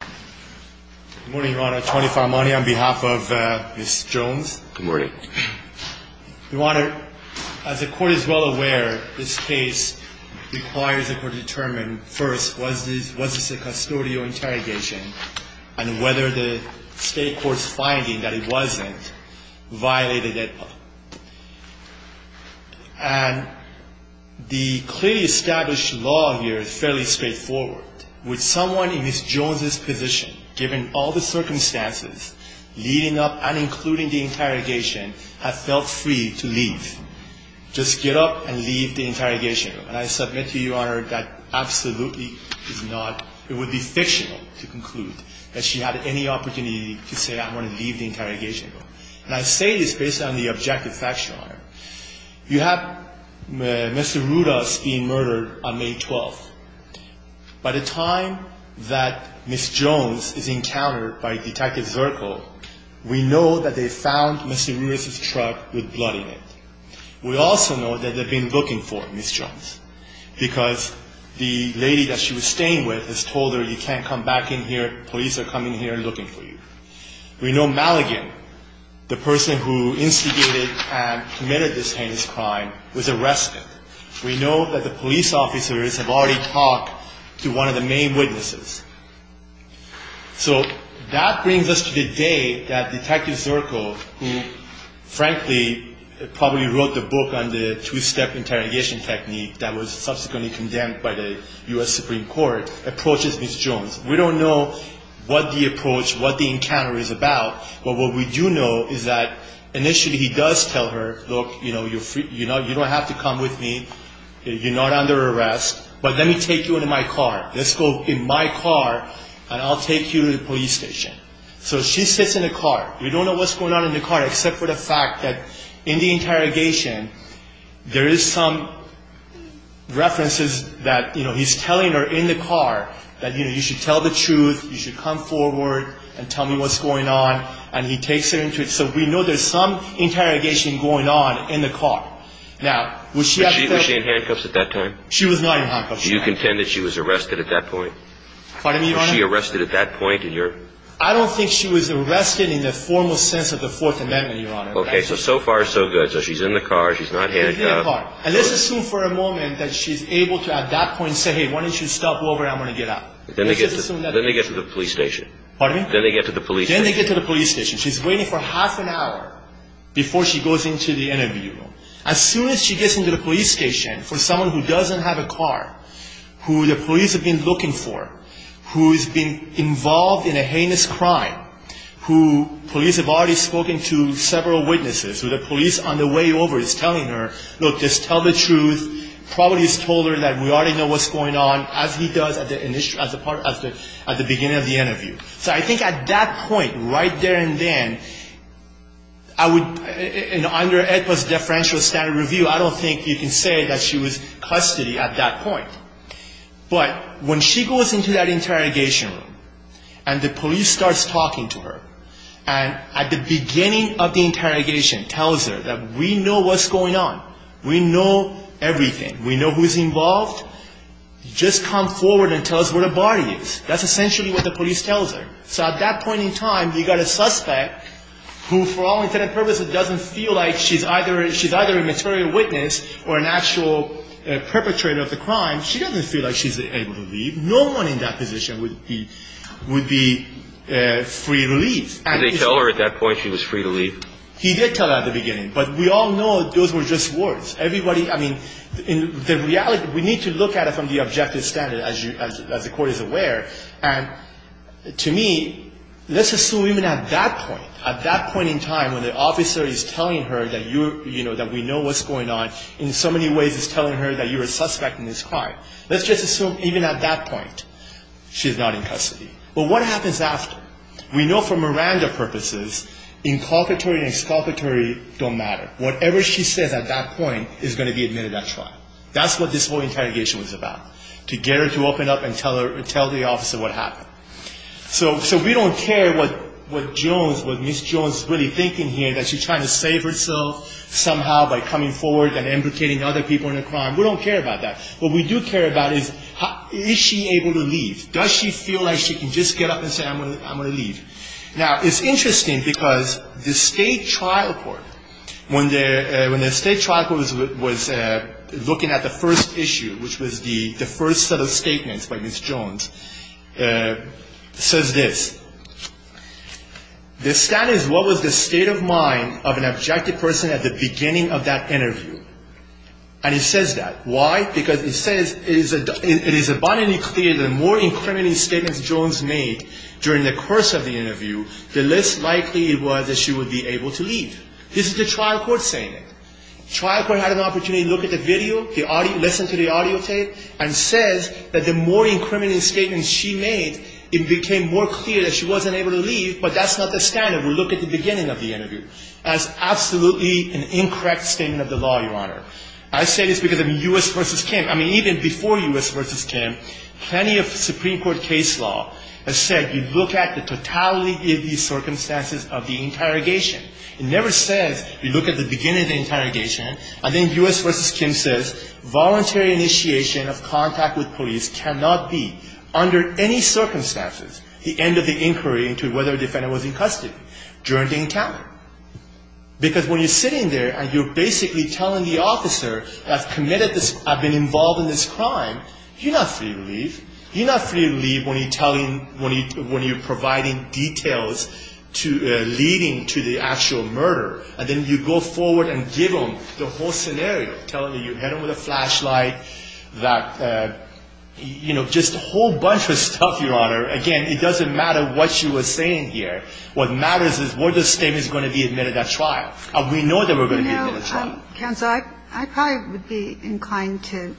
Good morning, Your Honor. Tony Farmani on behalf of Ms. Jones. Good morning. Your Honor, as the Court is well aware, this case requires the Court to determine first, was this a custodial interrogation, and whether the State Court's finding that it wasn't violated it. And the clearly established law here is fairly straightforward. Would someone in Ms. Jones' position, given all the circumstances leading up and including the interrogation, have felt free to leave? Just get up and leave the interrogation room. And I submit to you, Your Honor, that absolutely is not – it would be fictional to conclude that she had any opportunity to say, I want to leave the interrogation room. And I say this based on the objective facts, Your Honor. You have Mr. Rudas being murdered on May 12th. By the time that Ms. Jones is encountered by Detective Zirkle, we know that they found Mr. Rudas' truck with blood in it. We also know that they've been looking for Ms. Jones, because the lady that she was staying with has told her, you can't come back in here, police are coming here looking for you. We know Maligan, the person who instigated and committed this heinous crime, was arrested. We know that the police officers have already talked to one of the main witnesses. So that brings us to the day that Detective Zirkle, who frankly probably wrote the book on the two-step interrogation technique that was subsequently condemned by the U.S. Supreme Court, approaches Ms. Jones. We don't know what the approach, what the encounter is about, but what we do know is that initially he does tell her, look, you don't have to come with me, you're not under arrest, but let me take you into my car. Let's go in my car and I'll take you to the police station. So she sits in the car. We don't know what's going on in the car except for the fact that in the interrogation, there is some references that he's telling her in the car that you should tell the truth, you should come forward and tell me what's going on, and he takes her into it. So we know there's some interrogation going on in the car. Now, was she in handcuffs at that time? She was not in handcuffs at that time. Do you contend that she was arrested at that point? Pardon me, Your Honor? Was she arrested at that point? I don't think she was arrested in the formal sense of the Fourth Amendment, Your Honor. Okay, so so far so good. So she's in the car, she's not handcuffed. And let's assume for a moment that she's able to at that point say, hey, why don't you stop over, I'm going to get out. Then they get to the police station. Pardon me? Then they get to the police station. Then they get to the police station. She's waiting for half an hour before she goes into the interview room. As soon as she gets into the police station, for someone who doesn't have a car, who the police have been looking for, who has been involved in a heinous crime, who police have already spoken to several witnesses, who the police on the way over is telling her, look, just tell the truth, probably has told her that we already know what's going on, as he does at the beginning of the interview. So I think at that point, right there and then, I would, under AEDPA's deferential standard review, I don't think you can say that she was custody at that point. But when she goes into that interrogation room, and the police starts talking to her, and at the beginning of the interrogation tells her that we know what's going on, we know everything, we know who's involved, just come forward and tell us where the body is. That's essentially what the police tells her. So at that point in time, you've got a suspect who, for all intents and purposes, doesn't feel like she's either a material witness or an actual perpetrator of the crime. She doesn't feel like she's able to leave. No one in that position would be free to leave. Did they tell her at that point she was free to leave? He did tell her at the beginning. But we all know those were just words. Everybody, I mean, the reality, we need to look at it from the objective standard, as the court is aware. And to me, let's assume even at that point, at that point in time, when the officer is telling her that we know what's going on, in so many ways it's telling her that you're a suspect in this crime. Let's just assume even at that point she's not in custody. But what happens after? We know for Miranda purposes, inculpatory and exculpatory don't matter. Whatever she says at that point is going to be admitted at trial. That's what this whole interrogation was about, to get her to open up and tell the officer what happened. So we don't care what Jones, what Ms. Jones is really thinking here, that she's trying to save herself somehow by coming forward and implicating other people in the crime. We don't care about that. What we do care about is, is she able to leave? Does she feel like she can just get up and say, I'm going to leave? Now, it's interesting because the state trial court, when the state trial court was looking at the first issue, which was the first set of statements by Ms. Jones, says this. The status, what was the state of mind of an objective person at the beginning of that interview? And it says that. Why? Because it says, it is abundantly clear the more incriminating statements Jones made during the course of the interview, the less likely it was that she would be able to leave. This is the trial court saying it. Trial court had an opportunity to look at the video, the audio, listen to the audio tape, and says that the more incriminating statements she made, it became more clear that she wasn't able to leave, but that's not the standard. We look at the beginning of the interview. That's absolutely an incorrect statement of the law, Your Honor. I say this because of U.S. v. Kim. I mean, even before U.S. v. Kim, plenty of Supreme Court case law has said you look at the totality of the circumstances of the interrogation. It never says you look at the beginning of the interrogation, and then U.S. v. Kim says voluntary initiation of contact with police cannot be, under any circumstances, the end of the inquiry into whether a defendant was in custody during the encounter. Because when you're sitting there and you're basically telling the officer, I've committed this, I've been involved in this crime, you're not free to leave. You're not free to leave when you're providing details leading to the actual murder. And then you go forward and give them the whole scenario, telling them you hit them with a flashlight, that, you know, just a whole bunch of stuff, Your Honor. Again, it doesn't matter what she was saying here. What matters is where the statement is going to be admitted at trial. And we know that we're going to be admitted at trial. Counsel, I probably would be inclined to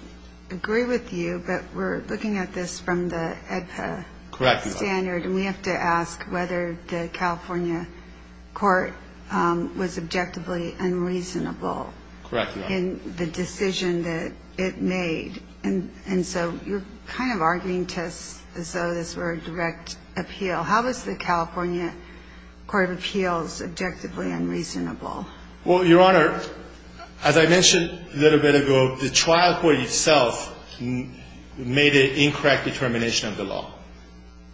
agree with you, but we're looking at this from the AEDPA standard. Correct, Your Honor. And we have to ask whether the California court was objectively unreasonable in the decision that it made. And so you're kind of arguing to us as though this were a direct appeal. How is the California court of appeals objectively unreasonable? Well, Your Honor, as I mentioned a little bit ago, the trial court itself made an incorrect determination of the law.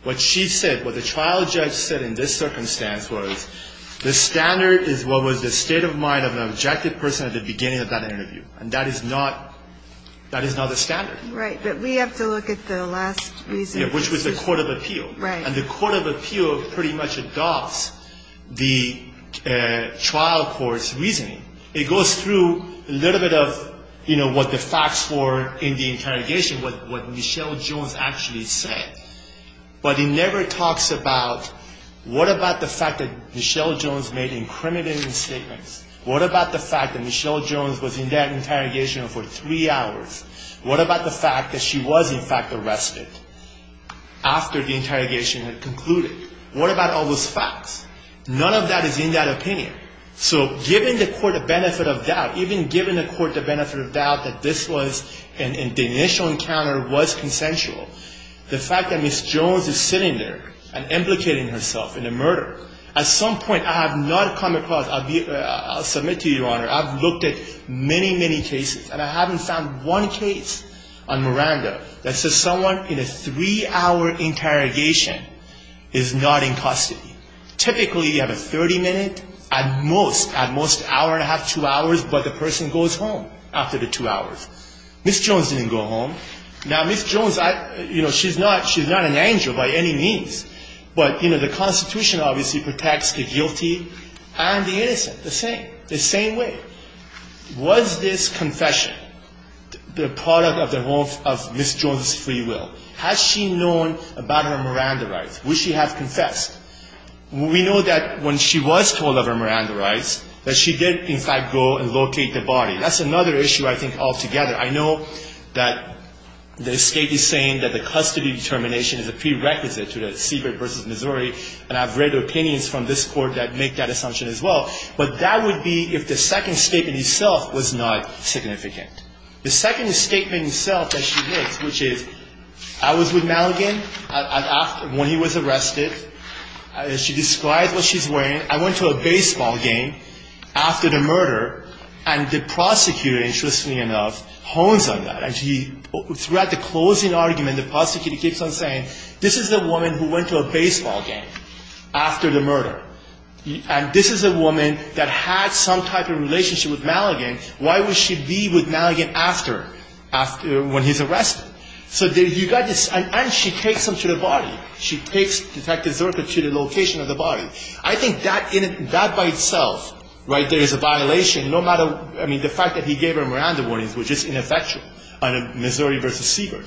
What she said, what the trial judge said in this circumstance was, the standard is what was the state of mind of an objective person at the beginning of that interview. And that is not the standard. Right. But we have to look at the last reason. Which was the court of appeal. Right. And the court of appeal pretty much adopts the trial court's reasoning. It goes through a little bit of, you know, what the facts were in the interrogation, what Michelle Jones actually said. But it never talks about what about the fact that Michelle Jones made incriminating statements? What about the fact that Michelle Jones was in that interrogation for three hours? What about the fact that she was, in fact, arrested after the interrogation had concluded? What about all those facts? None of that is in that opinion. So given the court the benefit of doubt, even given the court the benefit of doubt that this was, and the initial encounter was consensual, the fact that Miss Jones is sitting there and implicating herself in a murder, at some point I have not come across, I'll submit to you, Your Honor, I've looked at many, many cases, and I haven't found one case on Miranda that says someone in a three-hour interrogation is not in custody. Typically, you have a 30-minute, at most, at most hour and a half, two hours, but the person goes home after the two hours. Miss Jones didn't go home. Now, Miss Jones, you know, she's not an angel by any means. But, you know, the Constitution obviously protects the guilty and the innocent the same, the same way. Was this confession the product of the whole of Miss Jones' free will? Has she known about her Miranda rights? Would she have confessed? We know that when she was told of her Miranda rights, that she did, in fact, go and locate the body. That's another issue, I think, altogether. I know that the State is saying that the custody determination is a prerequisite to the Siebert v. Missouri, and I've read opinions from this Court that make that assumption as well. But that would be if the second statement itself was not significant. The second statement itself that she makes, which is, I was with Maligan when he was arrested. She describes what she's wearing. I went to a baseball game after the murder. And the prosecutor, interestingly enough, hones on that. And throughout the closing argument, the prosecutor keeps on saying, this is the woman who went to a baseball game after the murder. And this is a woman that had some type of relationship with Maligan. Why would she be with Maligan after, when he's arrested? So you've got this, and she takes him to the body. She takes Detective Zorka to the location of the body. I think that by itself, right, there is a violation, no matter, I mean, the fact that he gave her Miranda warnings, which is ineffectual under Missouri v. Siebert.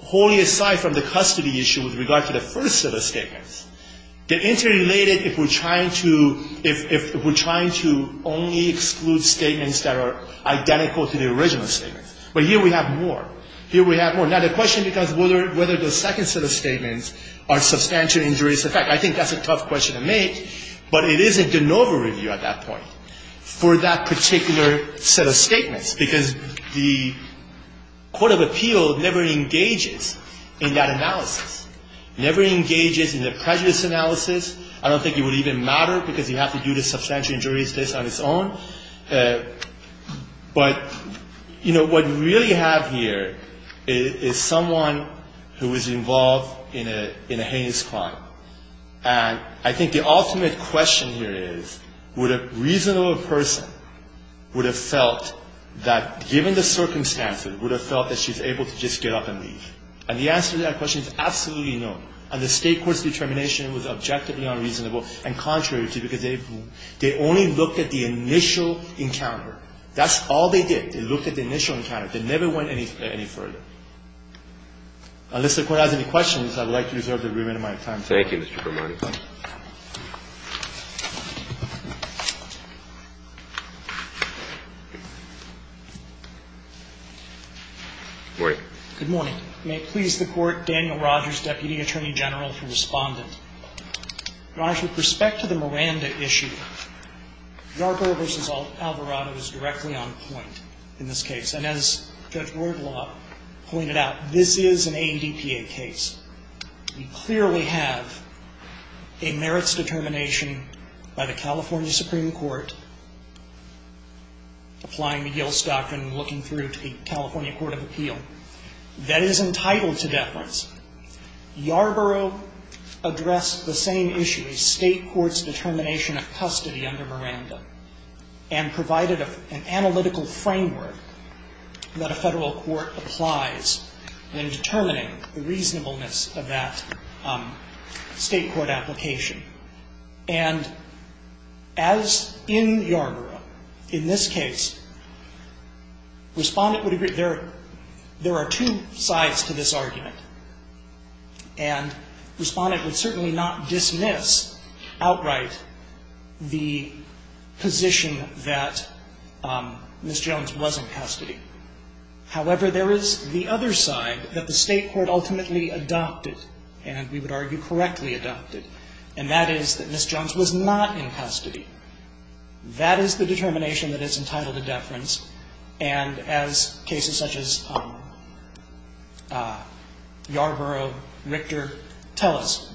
Wholly aside from the custody issue with regard to the first set of statements, they're interrelated if we're trying to, if we're trying to only exclude statements that are identical to the original statements. But here we have more. Here we have more. Now, the question becomes whether the second set of statements are substantial injuries. In fact, I think that's a tough question to make. But it is a de novo review at that point for that particular set of statements, because the court of appeal never engages in that analysis, never engages in the prejudice analysis. I don't think it would even matter because you have to do the substantial injuries case on its own. But, you know, what we really have here is someone who is involved in a heinous crime. And I think the ultimate question here is, would a reasonable person would have felt that, given the circumstances, would have felt that she's able to just get up and leave? And the answer to that question is absolutely no. And the State court's determination was objectively unreasonable, and contrary to you, because they only looked at the initial encounter. That's all they did. They looked at the initial encounter. They never went any further. Unless the Court has any questions, I would like to reserve the remainder of my time. Thank you, Mr. Kermani. Good morning. May it please the Court, Daniel Rogers, Deputy Attorney General for Respondent. Your Honor, with respect to the Miranda issue, Yarborough v. Alvarado is directly on point in this case. And as Judge Wardlaw pointed out, this is an AEDPA case. We clearly have a merits determination by the California Supreme Court, applying McGill's doctrine and looking through to the California Court of Appeal, that is entitled to deference. Yarborough addressed the same issue, the State court's determination of custody under Miranda, and provided an analytical framework that a Federal court applies in determining the reasonableness of that State court application. And as in Yarborough, in this case, Respondent would agree there are two sides to this argument. And Respondent would certainly not dismiss outright the position that Ms. Jones was in custody. However, there is the other side that the State court ultimately adopted, and we would argue correctly adopted, and that is that Ms. Jones was not in custody. That is the determination that is entitled to deference, and as cases such as Yarborough, Richter, tell us,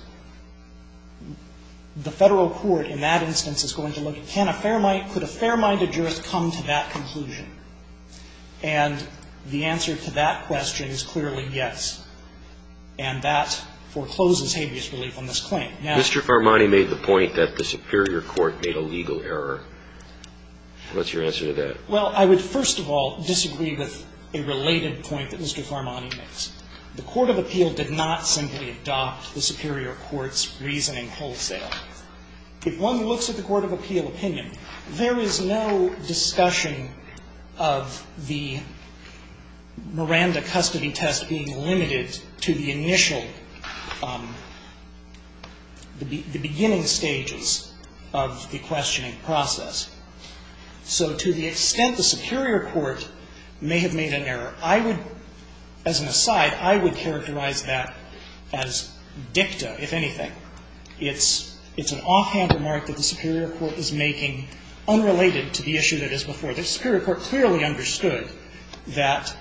the Federal court in that instance is going to look at, can a fair-minded jurist come to that conclusion? And the answer to that question is clearly yes. And that forecloses habeas relief on this claim. Now Mr. Farmani made the point that the superior court made a legal error. What's your answer to that? Well, I would first of all disagree with a related point that Mr. Farmani makes. The court of appeal did not simply adopt the superior court's reasoning wholesale. If one looks at the court of appeal opinion, there is no discussion of the Miranda custody test being limited to the initial, the beginning stages of the questioning process. So to the extent the superior court may have made an error, I would, as an aside, I would characterize that as dicta, if anything. It's an offhand remark that the superior court is making unrelated to the issue that is before. The superior court clearly understood that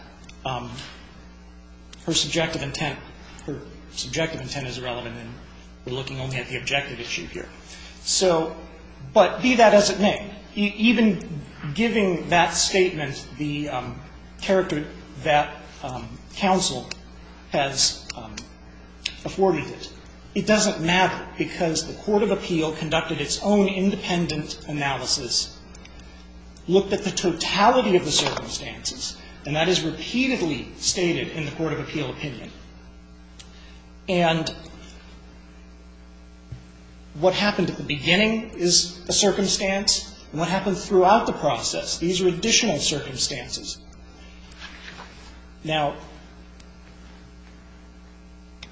her subjective intent, her subjective intent is irrelevant and we're looking only at the objective issue here. So, but be that as it may, even giving that statement the character that counsel has afforded it, it doesn't matter because the court of appeal conducted its own independent analysis, looked at the totality of the circumstances, and that is repeatedly stated in the court of appeal opinion. And what happened at the beginning is a circumstance, and what happens throughout the process, these are additional circumstances. Now,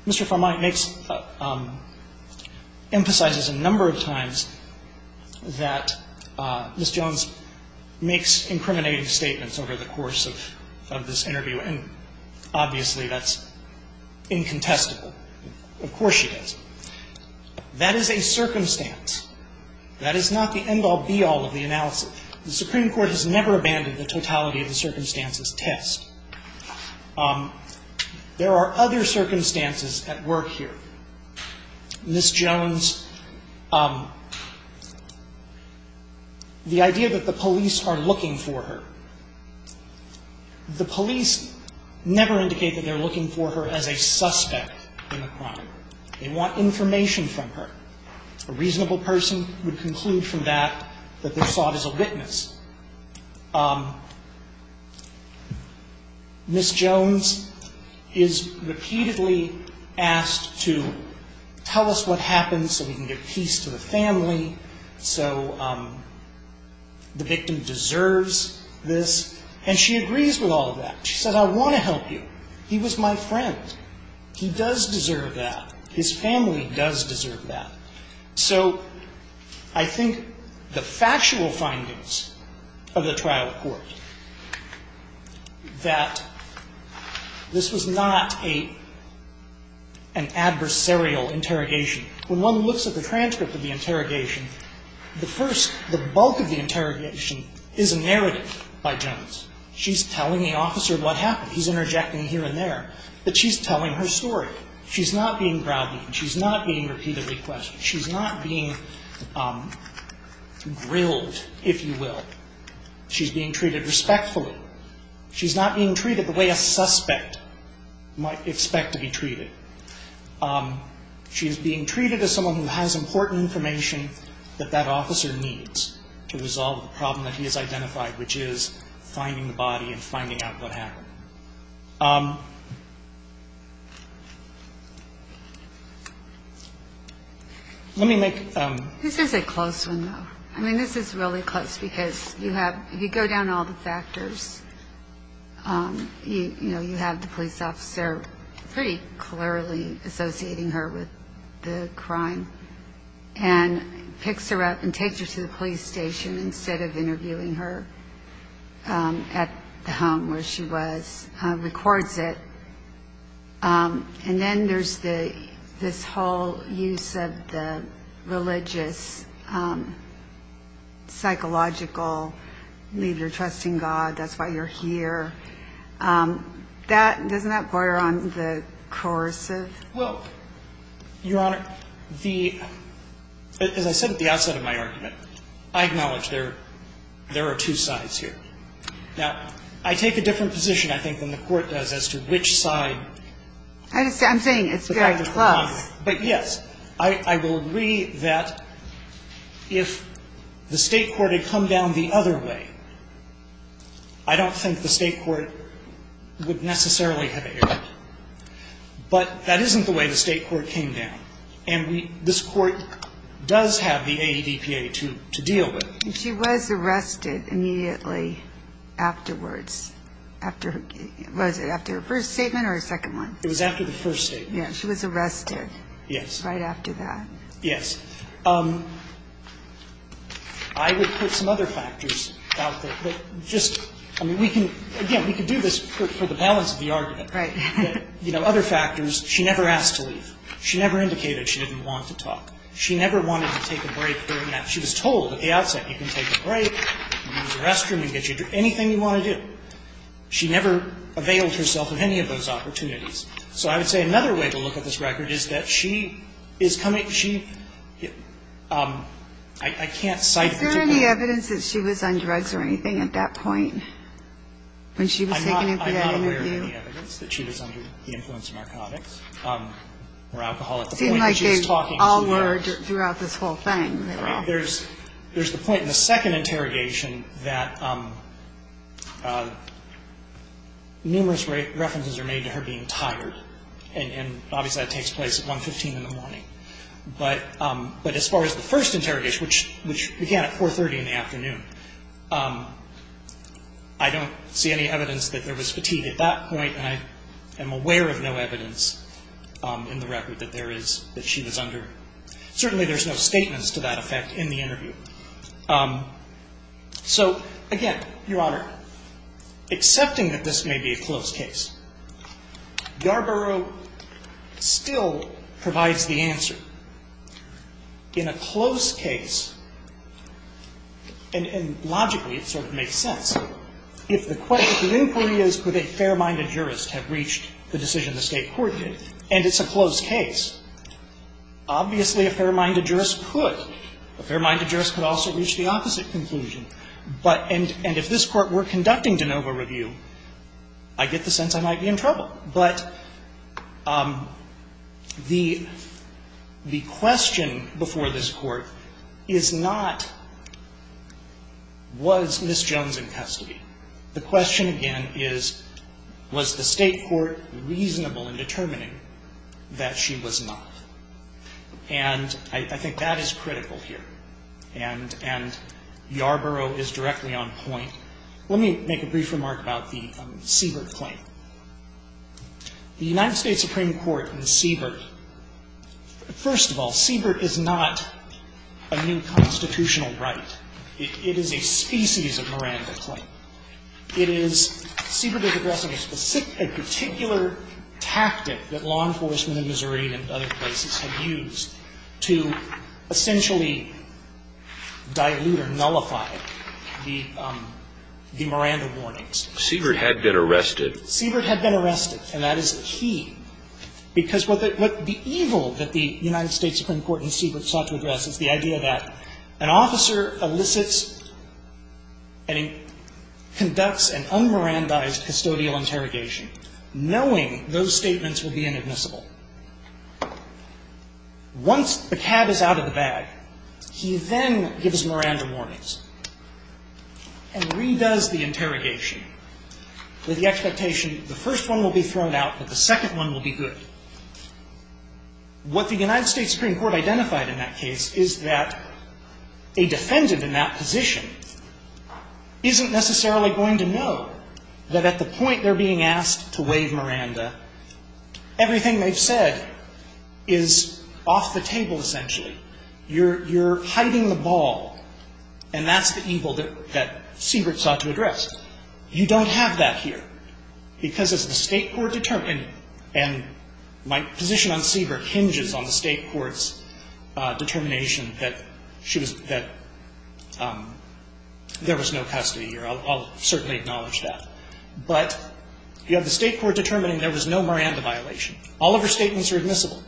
Mr. Farmani makes, emphasizes a number of times that the court of appeal does not, Ms. Jones makes incriminating statements over the course of this interview and obviously that's incontestable. Of course she does. That is a circumstance. That is not the end-all, be-all of the analysis. The Supreme Court has never abandoned the totality of the circumstances test. There are other circumstances at work here. Ms. Jones, the idea that the police are looking for her, the police never indicate that they're looking for her as a suspect in a crime. They want information from her. A reasonable person would conclude from that that they're sought as a witness. Ms. Jones is repeatedly asked to tell us what happened so we can give peace to the family, so the victim deserves this, and she agrees with all of that. She says, I want to help you. He was my friend. He does deserve that. His family does deserve that. So I think the factual findings of the trial court that this was not an adversarial interrogation. When one looks at the transcript of the interrogation, the first, the bulk of the interrogation is a narrative by Jones. She's telling the officer what happened. He's interjecting here and there, but she's telling her story. She's not being browbeaten. She's not being repeatedly questioned. She's not being grilled, if you will. She's being treated respectfully. She's not being treated the way a suspect might expect to be treated. She is being treated as someone who has important information that that officer needs to resolve the problem that he has identified, which is finding the body and finding out what happened. Let me make... This is a close one, though. I mean, this is really close, because you have, if you go down all the factors, you know, you have the police officer pretty clearly associating her with the crime, and picks her up and takes her to the police station instead of going to the police station. And then there's this whole use of the religious, psychological, leave your trust in God, that's why you're here. Doesn't that border on the coercive? Well, Your Honor, as I said at the outset of my argument, I acknowledge there are two sides here. Now, I take a different position. I think the court does as to which side... I'm saying it's very close. But yes. I will agree that if the State court had come down the other way, I don't think the State court would necessarily have aired it. But that isn't the way the State court came down. And this court does have the AEDPA to deal with. And she was arrested immediately afterwards. Was it after her first statement or her second one? It was after the first statement. Yes. She was arrested. Yes. Right after that. Yes. I would put some other factors out there that just, I mean, we can, again, we can do this for the balance of the argument. Right. You know, other factors. She never asked to leave. She never indicated she didn't want to talk. She never wanted to take a break during that. She was told at the outset, you can take a break, use the restroom, you can get your drink, anything you want to do. She never availed herself of any of those opportunities. So I would say another way to look at this record is that she is coming, she, I can't cite particular... Is there any evidence that she was on drugs or anything at that point when she was taking that interview? I'm not aware of any evidence that she was under the influence of narcotics or alcohol at the point that she was talking to the judge. No. So there's no evidence that there was any sort of fatigue throughout this whole thing. There's the point in the second interrogation that numerous references are made to her being tired, and obviously, that takes place at 1.15 in the morning. But as far as the first interrogation, which began at 4.30 in the afternoon, I don't see any evidence that there was fatigue at that point. And I am aware of no evidence in the record that there is, that she was under. Certainly, there's no statements to that effect in the interview. So, again, Your Honor, accepting that this may be a close case, Garbaro still provides the answer. In a close case, and logically it sort of makes sense, if the question, if the inquiry is could a fair-minded jurist have reached the decision the State Court did, and it's a close case, obviously, a fair-minded jurist could. A fair-minded jurist could also reach the opposite conclusion. And if this Court were conducting de novo review, I get the sense I might be in trouble. But the question before this Court is not was Ms. Jones in custody. The question again is was the State Court reasonable in determining that she was not. And I think that is critical here. And Garbaro is directly on point. Let me make a brief remark about the Siebert claim. The United States Supreme Court in Siebert, first of all, Siebert is not a new constitutional right. It is a species of Miranda claim. It is, Siebert is addressing a particular tactic that law enforcement in Missouri and other places have used to essentially dilute or nullify the Miranda warnings. Siebert had been arrested. Siebert had been arrested, and that is key. Because what the evil that the United States Supreme Court in Siebert sought to address is the idea that an officer elicits and conducts an un-Mirandaized custodial interrogation, knowing those statements will be inadmissible. Once the cab is out of the bag, he then gives Miranda warnings and redoes the interrogation with the expectation the first one will be thrown out, but the second one will be good. What the United States Supreme Court identified in that case is that a defendant in that position isn't necessarily going to know that at the point they're being asked to waive Miranda, everything they've said is off the table, essentially. You're hiding the ball, and that's the evil that Siebert sought to address. You don't have that here. Because as the State court determined, and my position on Siebert hinges on the State There was no custody here. I'll certainly acknowledge that. But you have the State court determining there was no Miranda violation. All of her statements are admissible.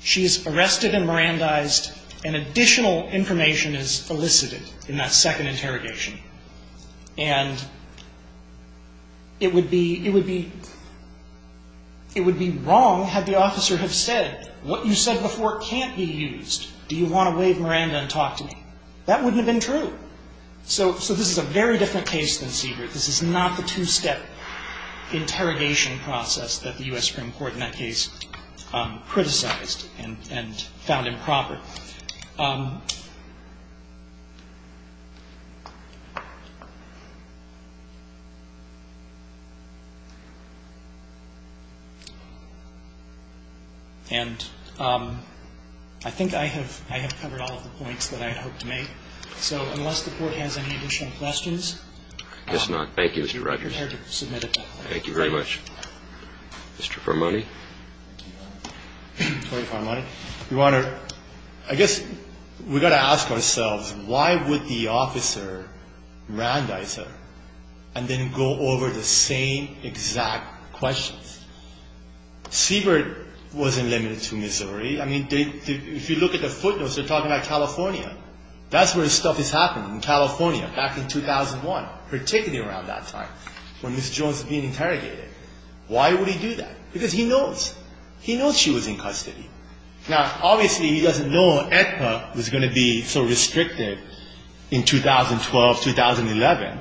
She is arrested and Mirandized, and additional information is elicited in that second interrogation. And it would be wrong had the officer have said, what you said before can't be used. Do you want to waive Miranda and talk to me? That wouldn't have been true. So this is a very different case than Siebert. This is not the two-step interrogation process that the U.S. Supreme Court in that case criticized and found improper. And I think I have covered all of the points that I had hoped to make. So unless the Court has any additional questions. I guess not. Thank you, Mr. Rogers. You're prepared to submit it. Thank you very much. Mr. Farmoni. Tony Farmoni. Do you want to ask a question? Yes. I guess we've got to ask ourselves, why would the officer Mirandize her and then go over the same exact questions? Siebert wasn't limited to Missouri. I mean, if you look at the footnotes, they're talking about California. That's where stuff has happened in California back in 2001, particularly around that time when Ms. Jones was being interrogated. Why would he do that? Because he knows. He knows she was in custody. Now, obviously, he doesn't know ECPA was going to be so restrictive in 2012-2011,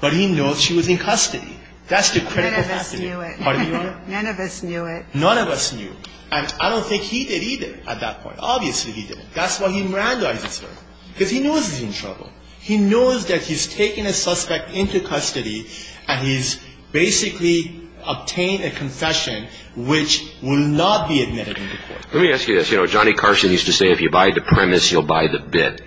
but he knows she was in custody. That's the critical factor. None of us knew it. None of us knew it. None of us knew. And I don't think he did either at that point. Obviously, he didn't. That's why he Mirandizes her, because he knows he's in trouble. He knows that he's taken a suspect into custody, and he's basically obtained a confession which will not be admitted in the court. Let me ask you this. You know, Johnny Carson used to say if you buy the premise, you'll buy the bit.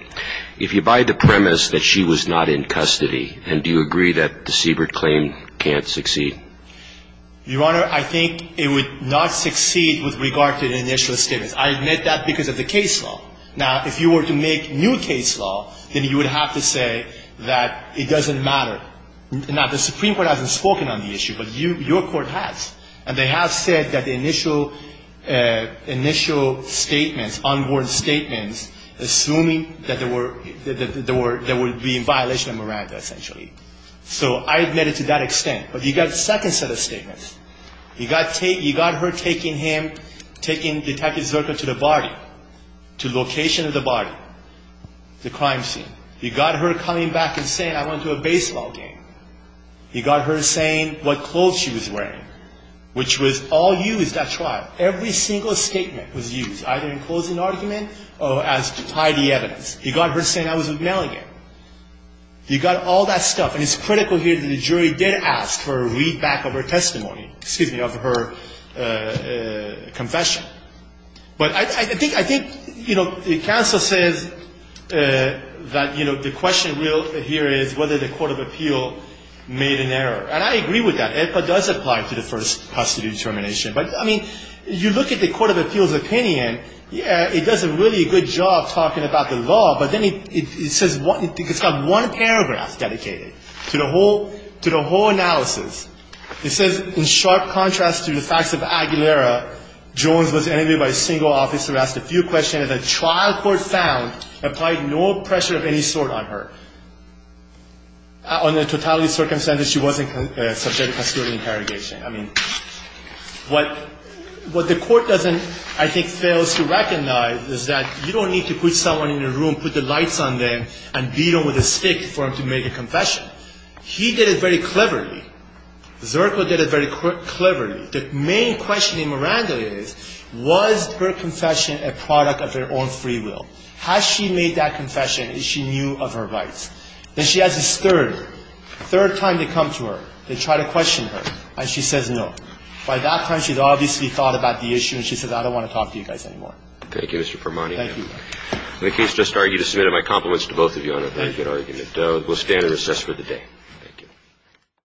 If you buy the premise that she was not in custody, and do you agree that the Siebert claim can't succeed? Your Honor, I think it would not succeed with regard to the initial statements. I admit that because of the case law. Now, if you were to make new case law, then you would have to say that it doesn't matter. Now, the Supreme Court hasn't spoken on the issue, but your court has. And they have said that the initial statements, on-board statements, assuming that there would be a violation of Miranda, essentially. So I admit it to that extent. But he got a second set of statements. He got her taking him, taking Detective Zerko to the body, to location of the body, the crime scene. He got her coming back and saying, I went to a baseball game. He got her saying what clothes she was wearing, which was all used at trial. Every single statement was used, either in closing argument or as to tie the evidence. He got her saying I was with Melligan. He got all that stuff. And it's critical here that the jury did ask for a readback of her testimony, excuse me, of her confession. But I think, I think, you know, the counsel says that, you know, the question here is whether the Court of Appeal made an error. And I agree with that. APA does apply to the first custody determination. But, I mean, you look at the Court of Appeal's opinion. Yeah, it does a really good job talking about the law. But then it says, it's got one paragraph dedicated to the whole analysis. It says, in sharp contrast to the facts of Aguilera, Jones was interviewed by a single officer who asked a few questions. And the trial court found applied no pressure of any sort on her. Under totality of circumstances, she wasn't subject to custody interrogation. I mean, what the court doesn't, I think, fails to recognize is that you don't need to put someone in a room, put the lights on them, and beat them with a stick for them to make a confession. He did it very cleverly. Zerko did it very cleverly. But the main question in Miranda is, was her confession a product of her own free will? Has she made that confession if she knew of her rights? Then she has this third, third time they come to her, they try to question her, and she says no. By that time, she's obviously thought about the issue, and she says, I don't want to talk to you guys anymore. Thank you, Mr. Permoni. Thank you, Your Honor. The case just argued is submitted. My compliments to both of you on a very good argument. We'll stand and recess for the day. Thank you.